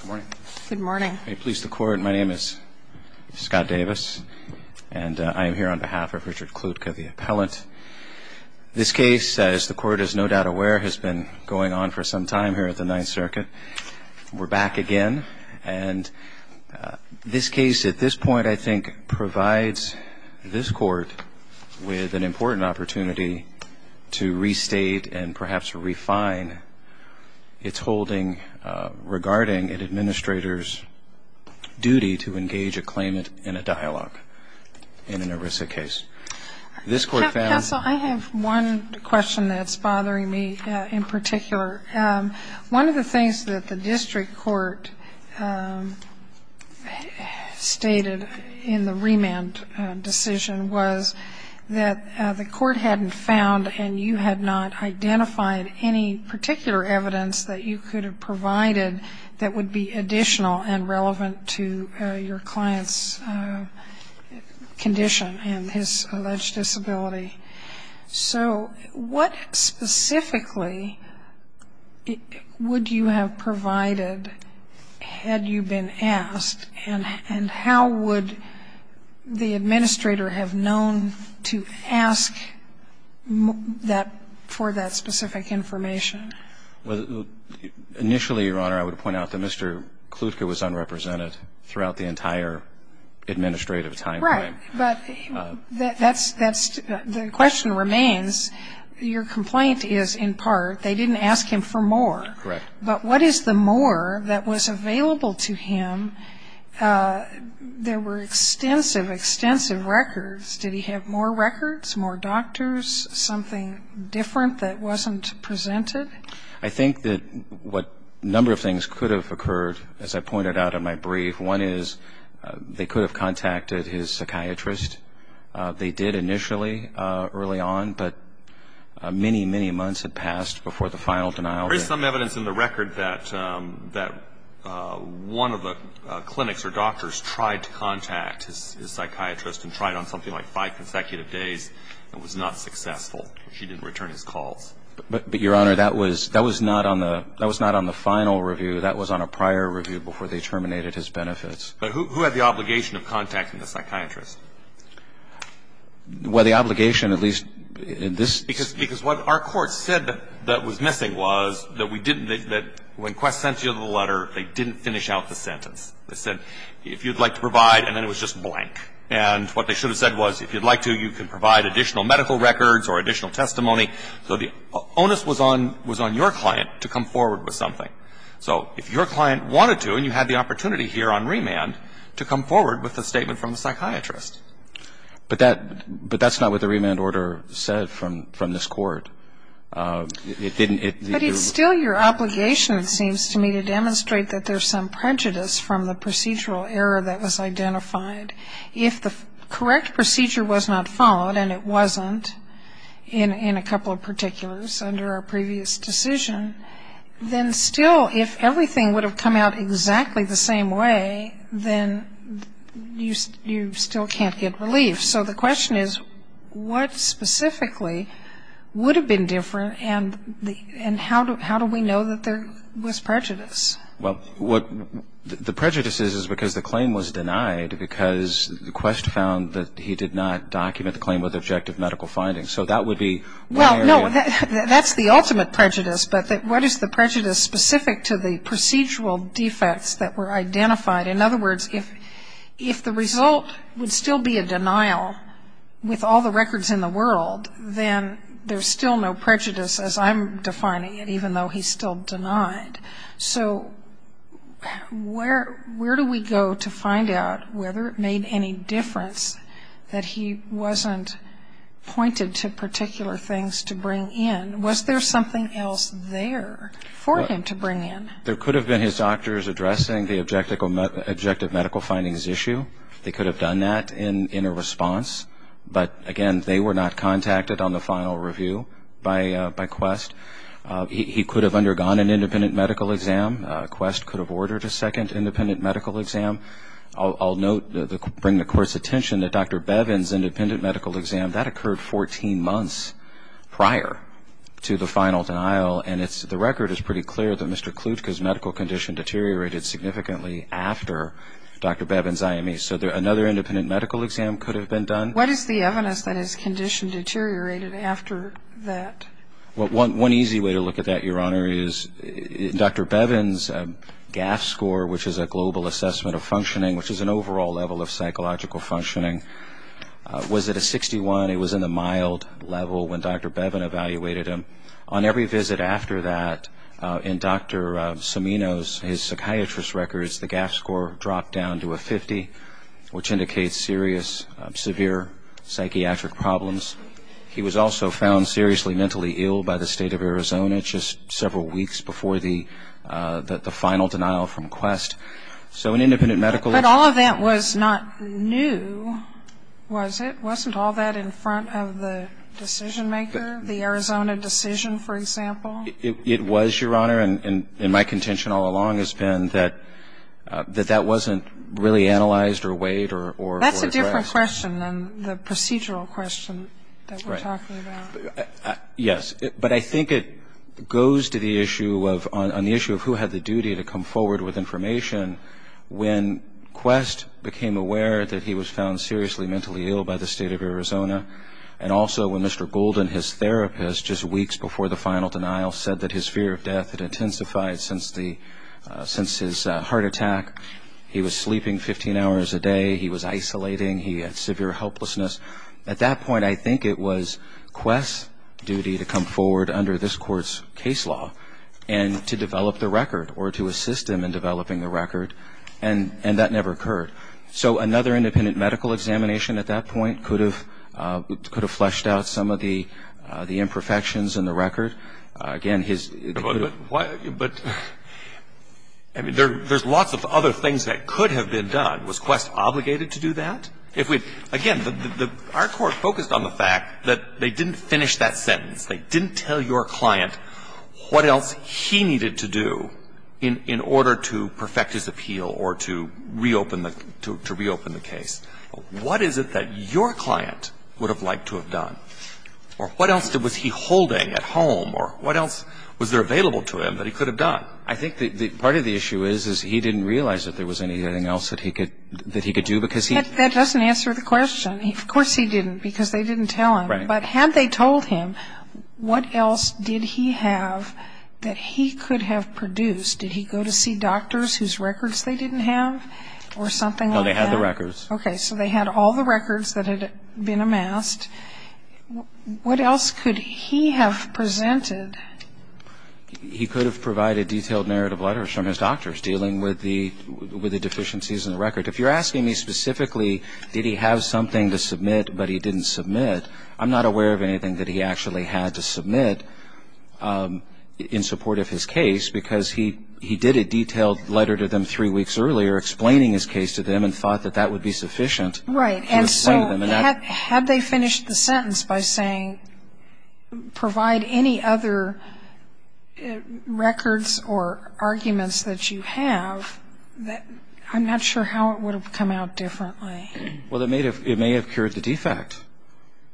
Good morning. Good morning. May it please the court, my name is Scott Davis and I am here on behalf of Richard Kludka, the appellant. This case, as the court is no doubt aware, has been going on for some time here at the Ninth Circuit. We're back again. And this case at this point, I think, provides this court with an important opportunity to restate and perhaps refine its holding regarding an administrator's duty to engage a claimant in a dialogue in an ERISA case. This court found- Counsel, I have one question that's bothering me in particular. One of the things that the district court stated in the remand decision was that the court hadn't found and you had not identified any particular evidence that you could have provided that would be additional and relevant to your client's condition and his alleged disability. So what specifically would you have provided had you been asked? And how would the administrator have known to ask for that specific information? Well, initially, Your Honor, I would point out that Mr. Kludka was unrepresented throughout the entire administrative time frame. But that's the question remains. Your complaint is, in part, they didn't ask him for more. Correct. But what is the more that was available to him? There were extensive, extensive records. Did he have more records, more doctors, something different that wasn't presented? I think that a number of things could have occurred, as I pointed out in my brief. One is they could have contacted his psychiatrist. They did initially, early on, but many, many months had passed before the final denial. There is some evidence in the record that one of the clinics or doctors tried to contact his psychiatrist and tried on something like five consecutive days and was not successful. She didn't return his calls. But, Your Honor, that was not on the final review. That was on a prior review before they terminated his benefits. But who had the obligation of contacting the psychiatrist? Well, the obligation, at least in this case. Because what our court said that was missing was that we didn't, that when Quest sent you the letter, they didn't finish out the sentence. They said, if you'd like to provide, and then it was just blank. And what they should have said was, if you'd like to, you can provide additional medical records or additional testimony. So the onus was on your client to come forward with something. So if your client wanted to, and you had the opportunity here on remand, to come forward with a statement from the psychiatrist. But that's not what the remand order said from this Court. It didn't. But it's still your obligation, it seems to me, to demonstrate that there's some prejudice from the procedural error that was identified. If the correct procedure was not followed, and it wasn't in a couple of particulars under our previous decision, then still, if everything would have come out exactly the same way, then you still can't get relief. So the question is, what specifically would have been different, and how do we know that there was prejudice? Well, what the prejudice is, is because the claim was denied, because Quest found that he did not document the claim with objective medical findings. So that would be one area. No, that's the ultimate prejudice. But what is the prejudice specific to the procedural defects that were identified? In other words, if the result would still be a denial with all the records in the world, then there's still no prejudice, as I'm defining it, even though he's still denied. So where do we go to find out whether it made any difference that he wasn't pointed to particular things to bring in? Was there something else there for him to bring in? There could have been his doctors addressing the objective medical findings issue. They could have done that in a response. But, again, they were not contacted on the final review by Quest. He could have undergone an independent medical exam. Quest could have ordered a second independent medical exam. I'll note, bring the Court's attention, that Dr. Bevin's independent medical exam, that occurred 14 months prior to the final denial, and the record is pretty clear that Mr. Klutka's medical condition deteriorated significantly after Dr. Bevin's IME. So another independent medical exam could have been done. What is the evidence that his condition deteriorated after that? One easy way to look at that, Your Honor, is Dr. Bevin's GAF score, which is a global assessment of functioning, which is an overall level of psychological functioning. Was it a 61? It was in the mild level when Dr. Bevin evaluated him. On every visit after that, in Dr. Samino's, his psychiatrist's records, the GAF score dropped down to a 50, which indicates serious, severe psychiatric problems. He was also found seriously mentally ill by the State of Arizona just several weeks before the final denial from Quest. So an independent medical exam. But all of that was not new, was it? Wasn't all that in front of the decision-maker, the Arizona decision, for example? It was, Your Honor, and my contention all along has been that that wasn't really analyzed or weighed or addressed. That's a different question than the procedural question that we're talking about. Yes. But I think it goes to the issue of who had the duty to come forward with information when Quest became aware that he was found seriously mentally ill by the State of Arizona and also when Mr. Golden, his therapist, just weeks before the final denial, said that his fear of death had intensified since his heart attack. He was sleeping 15 hours a day. He was isolating. He had severe helplessness. At that point, I think it was Quest's duty to come forward under this Court's case law and to develop the record or to assist him in developing the record. And that never occurred. So another independent medical examination at that point could have fleshed out some of the imperfections in the record. Again, his ---- But there's lots of other things that could have been done. Was Quest obligated to do that? Again, our court focused on the fact that they didn't finish that sentence. They didn't tell your client what else he needed to do in order to perfect his appeal or to reopen the case. What is it that your client would have liked to have done? Or what else was he holding at home? Or what else was there available to him that he could have done? I think part of the issue is, is he didn't realize that there was anything else that he could do because he ---- That doesn't answer the question. Of course he didn't because they didn't tell him. Right. But had they told him, what else did he have that he could have produced? Did he go to see doctors whose records they didn't have or something like that? No, they had the records. Okay. So they had all the records that had been amassed. What else could he have presented? He could have provided detailed narrative letters from his doctors dealing with the deficiencies in the record. If you're asking me specifically, did he have something to submit but he didn't submit, I'm not aware of anything that he actually had to submit in support of his case because he did a detailed letter to them three weeks earlier explaining his case to them and thought that that would be sufficient. Right. And so had they finished the sentence by saying, provide any other records or arguments that you have, I'm not sure how it would have come out differently. Well, it may have cured the defect.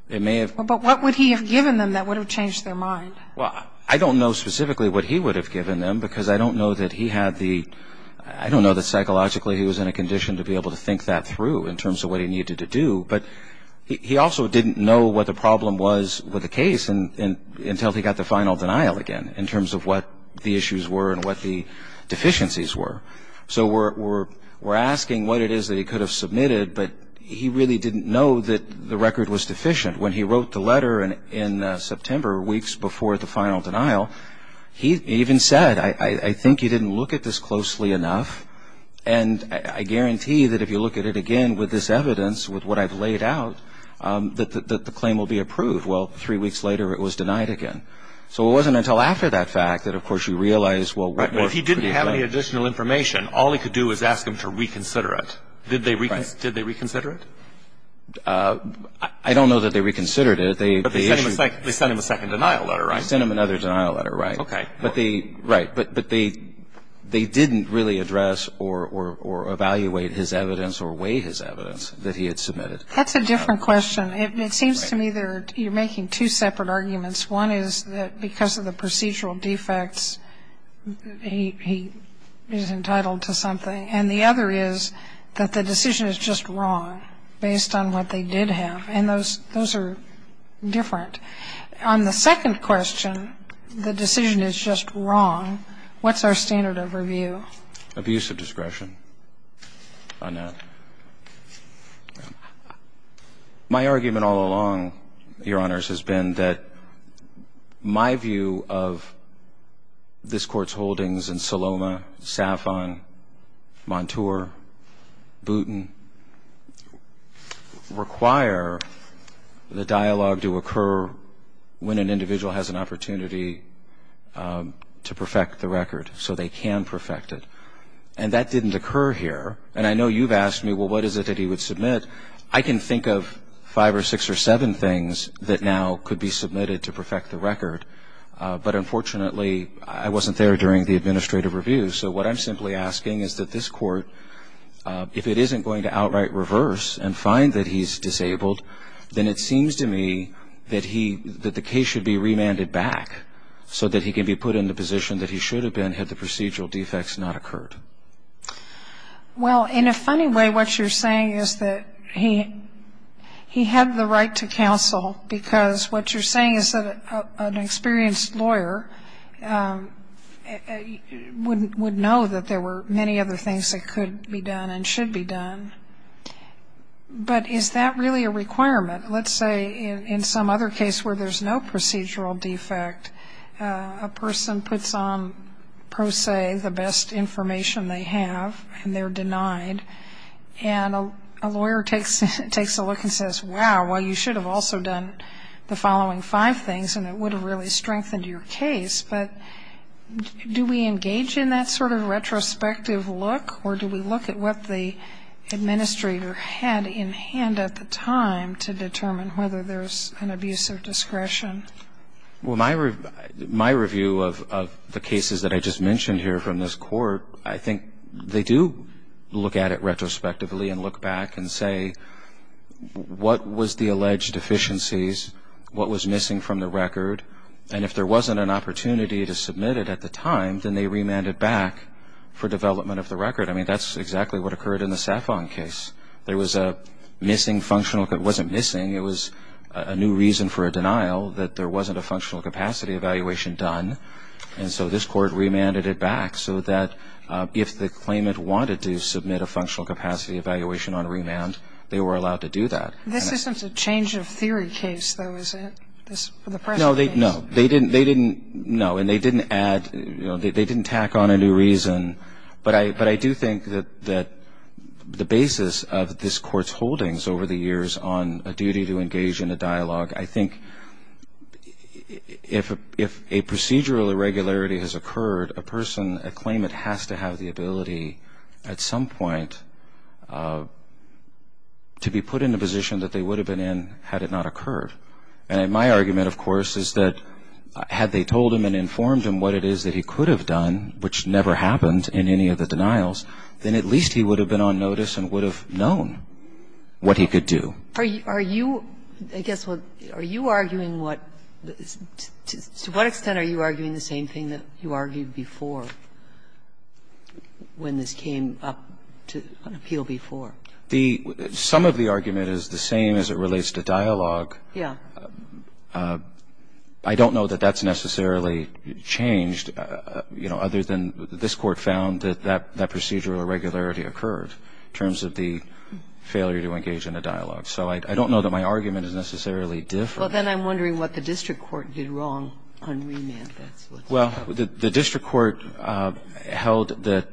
It may have. But what would he have given them that would have changed their mind? Well, I don't know specifically what he would have given them because I don't know that he had the ---- I don't know that psychologically he was in a condition to be able to think that through in terms of what he needed to do. But he also didn't know what the problem was with the case until he got the final denial again in terms of what the issues were and what the deficiencies were. So we're asking what it is that he could have submitted, but he really didn't know that the record was deficient. When he wrote the letter in September, weeks before the final denial, he even said, I think you didn't look at this closely enough, and I guarantee that if you look at it again with this evidence, with what I've laid out, that the claim will be approved. Well, three weeks later it was denied again. So it wasn't until after that fact that, of course, you realize, well, what ---- Well, if he didn't have any additional information, all he could do is ask them to reconsider it. Did they reconsider it? I don't know that they reconsidered it. They issued ---- But they sent him a second denial letter, right? They sent him another denial letter, right. Okay. Right. But they didn't really address or evaluate his evidence or weigh his evidence that he had submitted. That's a different question. It seems to me that you're making two separate arguments. One is that because of the procedural defects, he is entitled to something. And the other is that the decision is just wrong based on what they did have. And those are different. On the second question, the decision is just wrong, what's our standard of review? Abuse of discretion on that. My argument all along, Your Honors, has been that my view of this Court's holdings in Saloma, Safon, Montour, Boutin require the dialogue to occur when an individual has an opportunity to perfect the record so they can perfect it. And that didn't occur here. And I know you've asked me, well, what is it that he would submit? I can think of five or six or seven things that now could be submitted to perfect the record. But unfortunately, I wasn't there during the administrative review. So what I'm simply asking is that this Court, if it isn't going to outright reverse and find that he's disabled, then it seems to me that the case should be remanded back so that he can be put in the position that he should have been had the procedural defects not occurred. Well, in a funny way, what you're saying is that he had the right to counsel because what you're saying is that an experienced lawyer would know that there were many other things that could be done and should be done. But is that really a requirement? Let's say in some other case where there's no procedural defect, a person puts on pro se the best information they have and they're denied, and a lawyer takes a look and says, wow, well, you should have also done the following five things and it would have really strengthened your case. But do we engage in that sort of retrospective look or do we look at what the administrator had in hand at the time to determine whether there's an abuse of discretion? Well, my review of the cases that I just mentioned here from this Court, I think they do look at it retrospectively and look back and say what was the alleged deficiencies, what was missing from the record, and if there wasn't an opportunity to submit it at the time, then they remand it back for development of the record. I mean, that's exactly what occurred in the Safon case. There was a missing functional, it wasn't missing, it was a new reason for a denial that there wasn't a functional capacity evaluation done. And so this Court remanded it back so that if the claimant wanted to submit a functional capacity evaluation on remand, they were allowed to do that. This isn't a change of theory case, though, is it? No, they didn't, no, and they didn't tack on a new reason. But I do think that the basis of this Court's holdings over the years on a duty to engage in a dialogue, I think if a procedural irregularity has occurred, a person, a claimant, has to have the ability at some point to be put in a position that they would have been in had it not occurred. And my argument, of course, is that had they told him and informed him what it is that he could have done, which never happened in any of the denials, then at least he would have been on notice and would have known what he could do. Are you, I guess, are you arguing what, to what extent are you arguing the same thing that you argued before when this came up to an appeal before? The, some of the argument is the same as it relates to dialogue. Yeah. I don't know that that's necessarily changed, you know, other than this Court found that that procedural irregularity occurred in terms of the failure to engage in a dialogue. So I don't know that my argument is necessarily different. Well, then I'm wondering what the district court did wrong on remand. Well, the district court held that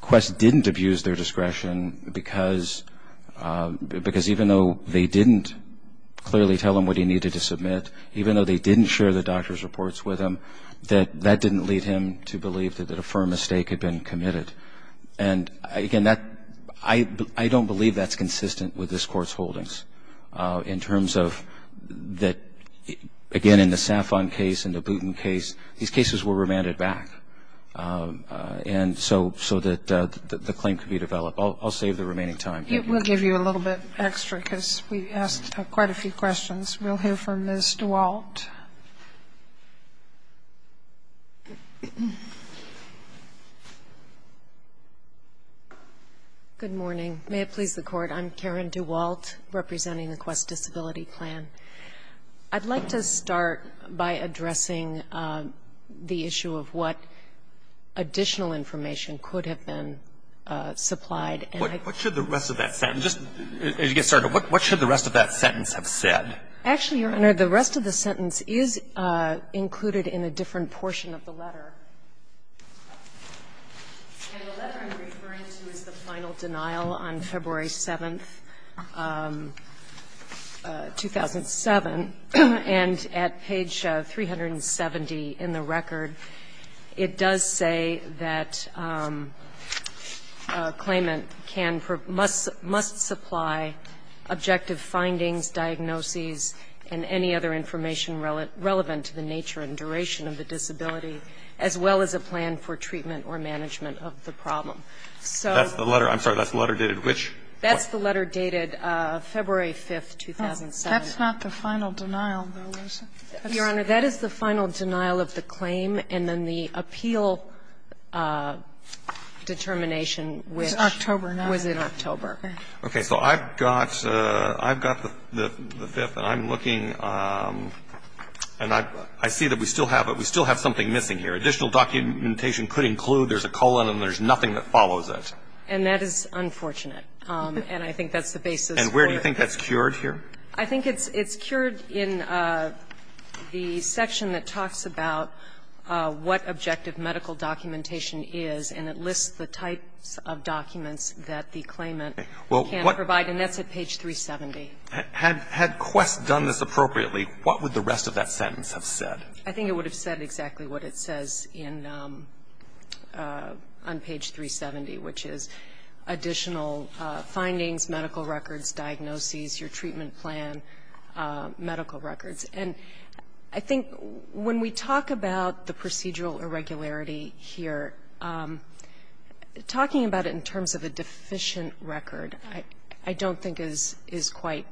Quest didn't abuse their discretion because even though they didn't clearly tell him what he needed to submit, even though they didn't share the doctor's reports with him, that that didn't lead him to believe that a firm mistake had been committed. And, again, that, I don't believe that's consistent with this Court's holdings in terms of that, again, in the Safon case and the Booten case, these cases were remanded back. And so that the claim could be developed. I'll save the remaining time. We'll give you a little bit extra because we asked quite a few questions. We'll hear from Ms. DeWalt. Good morning. May it please the Court. I'm Karen DeWalt, representing the Quest Disability Plan. I'd like to start by addressing the issue of what additional information could have been supplied. What should the rest of that sentence, as you get started, what should the rest of that sentence have said? Actually, Your Honor, the rest of the sentence is included in a different portion of the letter. And the letter I'm referring to is the final denial on February 7th, 2007. And at page 370 in the record, it does say that a claimant can or must supply objective findings, diagnoses, and any other information relevant to the nature and duration of the disability, as well as a plan for treatment or management of the problem. So the letter, I'm sorry, that's the letter dated which? That's the letter dated February 5th, 2007. That's not the final denial, though, is it? Your Honor, that is the final denial of the claim, and then the appeal determination which was in October. Okay. So I've got the fifth, and I'm looking, and I see that we still have something missing here. Additional documentation could include there's a colon and there's nothing that follows it. And that is unfortunate, and I think that's the basis for it. And where do you think that's cured here? I think it's cured in the section that talks about what objective medical documentation is, and it lists the types of documents that the claimant can provide, and that's at page 370. Had Quest done this appropriately, what would the rest of that sentence have said? I think it would have said exactly what it says on page 370, which is additional findings, medical records, diagnoses, your treatment plan, medical records. And I think when we talk about the procedural irregularity here, talking about it in terms of a deficient record I don't think is quite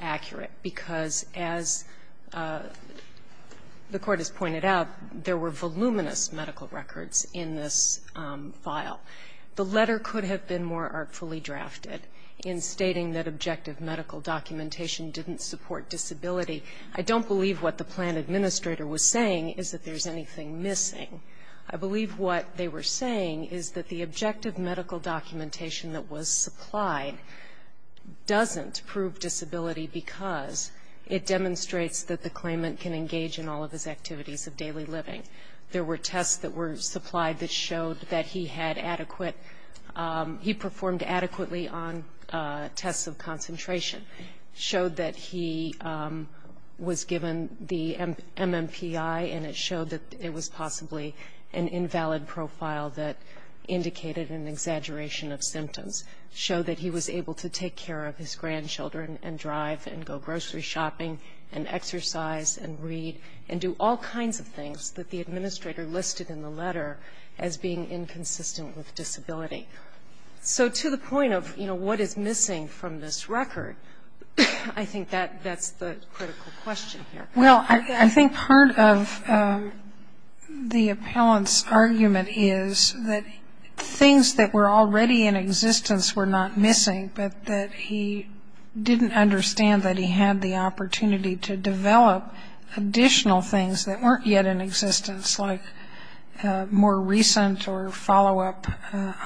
accurate, because as the Court has pointed out, there were voluminous medical records in this file. The letter could have been more artfully drafted in stating that objective medical documentation didn't support disability. I don't believe what the plan administrator was saying is that there's anything missing. I believe what they were saying is that the objective medical documentation that was supplied doesn't prove disability because it demonstrates that the claimant can engage in all of his activities of daily living. There were tests that were supplied that showed that he had adequate he performed adequately on tests of concentration, showed that he was given the MMPI, and it showed that it was possibly an invalid profile that indicated an exaggeration of symptoms, showed that he was able to take care of his grandchildren and drive and go grocery shopping and exercise and read and do all kinds of things that the administrator listed in the letter as being inconsistent with disability. So to the point of, you know, what is missing from this record, I think that's the critical question here. Well, I think part of the appellant's argument is that things that were already in existence were not missing, but that he didn't understand that he had the opportunity to develop additional things that weren't yet in existence, like more recent or follow-up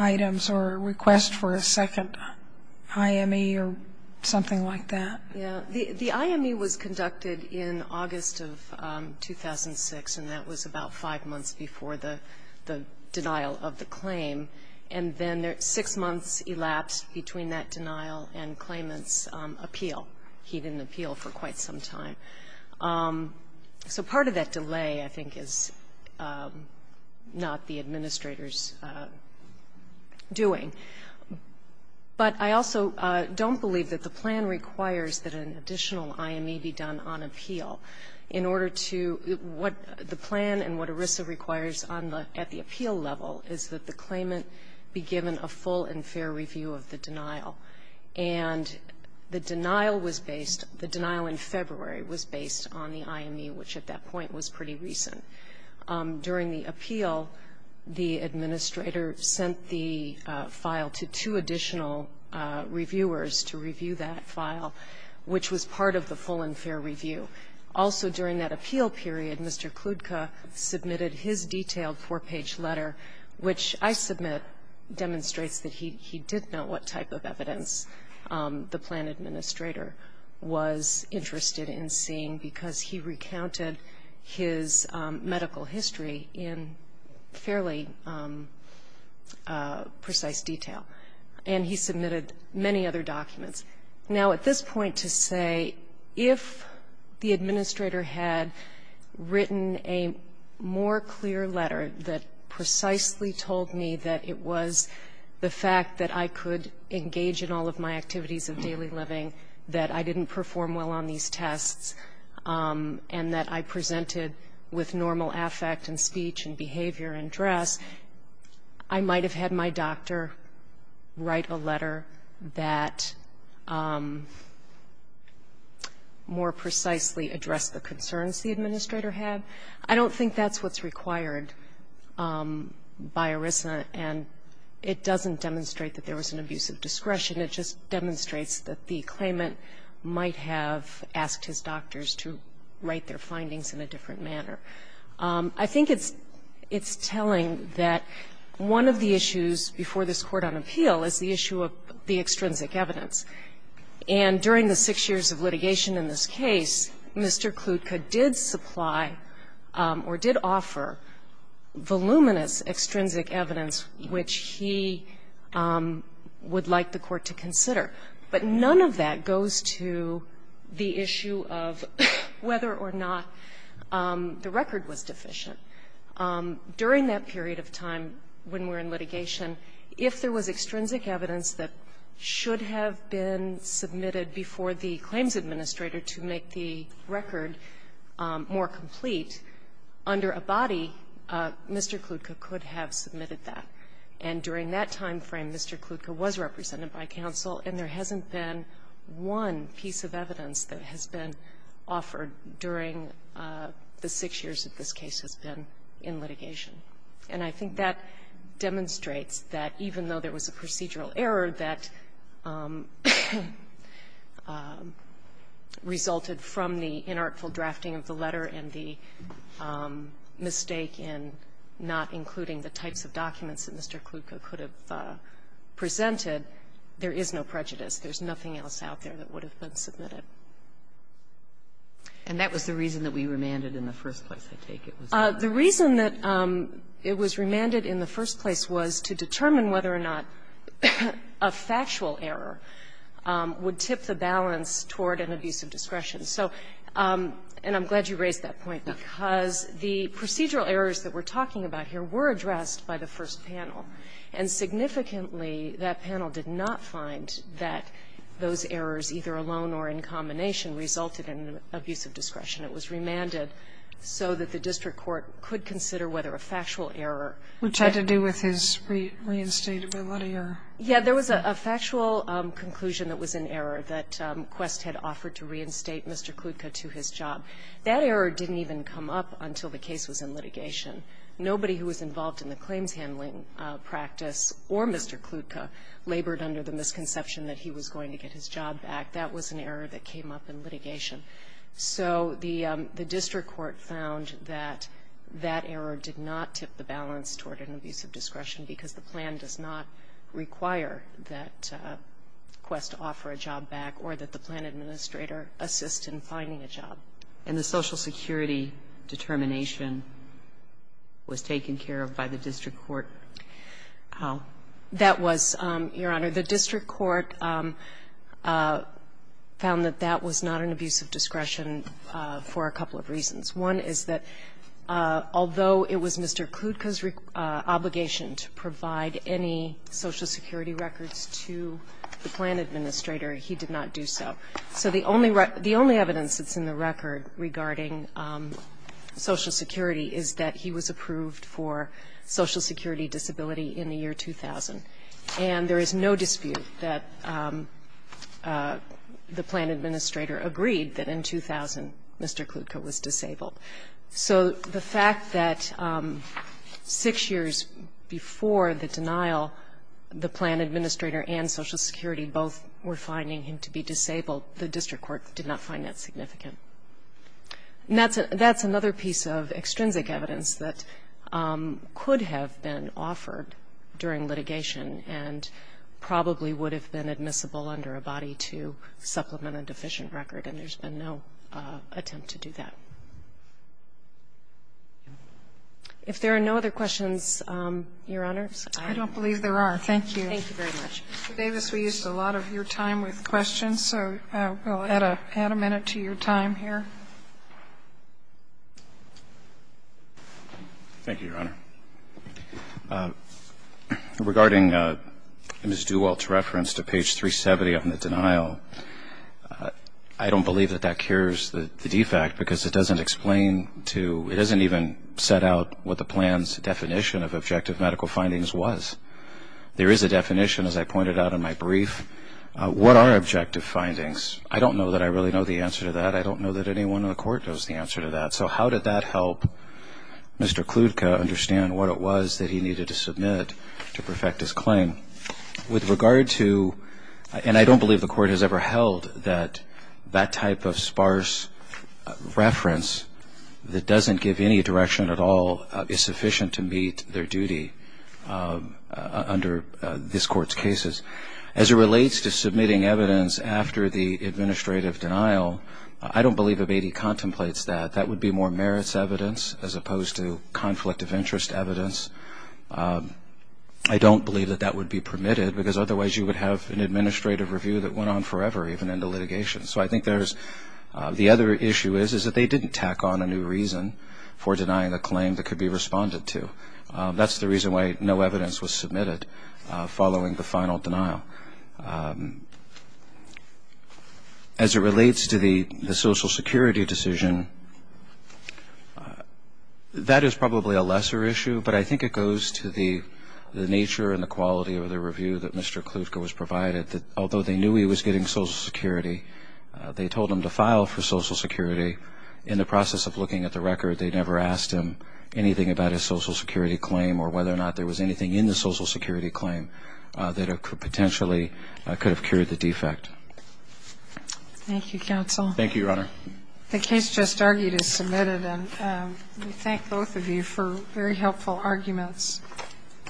items or a request for a second IME or something like that. Yeah. The IME was conducted in August of 2006, and that was about five months before the denial of the claim. And then six months elapsed between that denial and claimant's appeal. He didn't appeal for quite some time. So part of that delay, I think, is not the administrator's doing. But I also don't believe that the plan requires that an additional IME be done on appeal. In order to what the plan and what ERISA requires at the appeal level is that the claimant be given a full and fair review of the denial. And the denial was based, the denial in February was based on the IME, which at that point was pretty recent. During the appeal, the administrator sent the file to two additional reviewers to review that file, which was part of the full and fair review. Also during that appeal period, Mr. Kludka submitted his detailed four-page letter, which I submit demonstrates that he did know what type of evidence the plan administrator was interested in seeing because he recounted his medical history in fairly precise detail. And he submitted many other documents. Now, at this point to say if the administrator had written a more clear letter that precisely told me that it was the fact that I could engage in all of my activities of daily living, that I didn't perform well on these tests, and that I presented with normal affect and speech and behavior and dress, I might have had my doctor write a letter that more precisely addressed the concerns the administrator had, I don't think that's what's required. And it doesn't demonstrate that there was an abuse of discretion. It just demonstrates that the claimant might have asked his doctors to write their findings in a different manner. I think it's telling that one of the issues before this court on appeal is the issue of the extrinsic evidence. And during the six years of litigation in this case, Mr. Kludka did supply or did offer voluminous extrinsic evidence which he would like the Court to consider. But none of that goes to the issue of whether or not the record was deficient. During that period of time when we're in litigation, if there was extrinsic evidence that should have been submitted before the claims administrator to make the record more complete, under a body, Mr. Kludka could have submitted that. And during that time frame, Mr. Kludka was represented by counsel, and there hasn't been one piece of evidence that has been offered during the six years that this case has been in litigation. And I think that demonstrates that even though there was a procedural error that resulted from the inartful drafting of the letter and the mistake in not including the types of documents that Mr. Kludka could have presented, there is no prejudice. There's nothing else out there that would have been submitted. And that was the reason that we remanded in the first place, I take it was. The reason that it was remanded in the first place was to determine whether or not a factual error would tip the balance toward an abuse of discretion. So, and I'm glad you raised that point, because the procedural errors that we're talking about here were addressed by the first panel. And significantly, that panel did not find that those errors, either alone or in combination, resulted in an abuse of discretion. It was remanded so that the district court could consider whether a factual error which had to do with his reinstatability or Yeah, there was a factual conclusion that was an error that Quest had offered to reinstate Mr. Kludka to his job. That error didn't even come up until the case was in litigation. Nobody who was involved in the claims handling practice or Mr. Kludka labored under the misconception that he was going to get his job back. That was an error that came up in litigation. So the district court found that that error did not tip the balance toward an abuse of discretion because the plan does not require that Quest offer a job back or that the plan administrator assist in finding a job. And the social security determination was taken care of by the district court? That was, Your Honor, the district court found that that was not an abuse of discretion for a couple of reasons. One is that although it was Mr. Kludka's obligation to provide any social security records to the plan administrator, he did not do so. So the only evidence that's in the record regarding social security is that he was approved for social security disability in the year 2000. And there is no dispute that the plan administrator agreed that in 2000, Mr. Kludka was disabled. So the fact that six years before the denial, the plan administrator and social security both were finding him to be disabled, the district court did not find that significant. And that's another piece of extrinsic evidence that could have been offered during litigation and probably would have been admissible under a body to supplement a deficient record, and there's been no attempt to do that. If there are no other questions, Your Honors, I don't believe there are. Thank you. Thank you very much. Davis, we used a lot of your time with questions, so we'll add a minute to your time here. Thank you, Your Honor. Regarding Ms. Dewalt's reference to page 370 on the denial, I don't believe that that cures the defect because it doesn't explain to, it doesn't even set out what the plan's definition of objective medical findings was. There is a definition, as I pointed out in my brief. What are objective findings? I don't know that I really know the answer to that. I don't know that anyone in the court knows the answer to that. So how did that help Mr. Kludka understand what it was that he needed to submit to perfect his claim? With regard to, and I don't believe the court has ever held that that type of sparse reference that doesn't give any direction at all is sufficient to meet their duty under this court's cases. As it relates to submitting evidence after the administrative denial, I don't believe a baby contemplates that. That would be more merits evidence as opposed to conflict of interest evidence. I don't believe that that would be permitted because otherwise you would have an administrative review that went on forever even in the litigation. So I think there's, the other issue is is that they didn't tack on a new reason for denying a claim that could be responded to. That's the reason why no evidence was submitted following the final denial. As it relates to the social security decision, that is probably a lesser issue, but I think it goes to the nature and the quality of the review that Mr. Kludka was provided. Although they knew he was getting social security, they told him to file for social security. In the process of looking at the record, they never asked him anything about his social security claim or whether or not there was anything in the social security claim that potentially could have cured the defect. Thank you, counsel. Thank you, Your Honor. The case just argued is submitted and we thank both of you for very helpful arguments.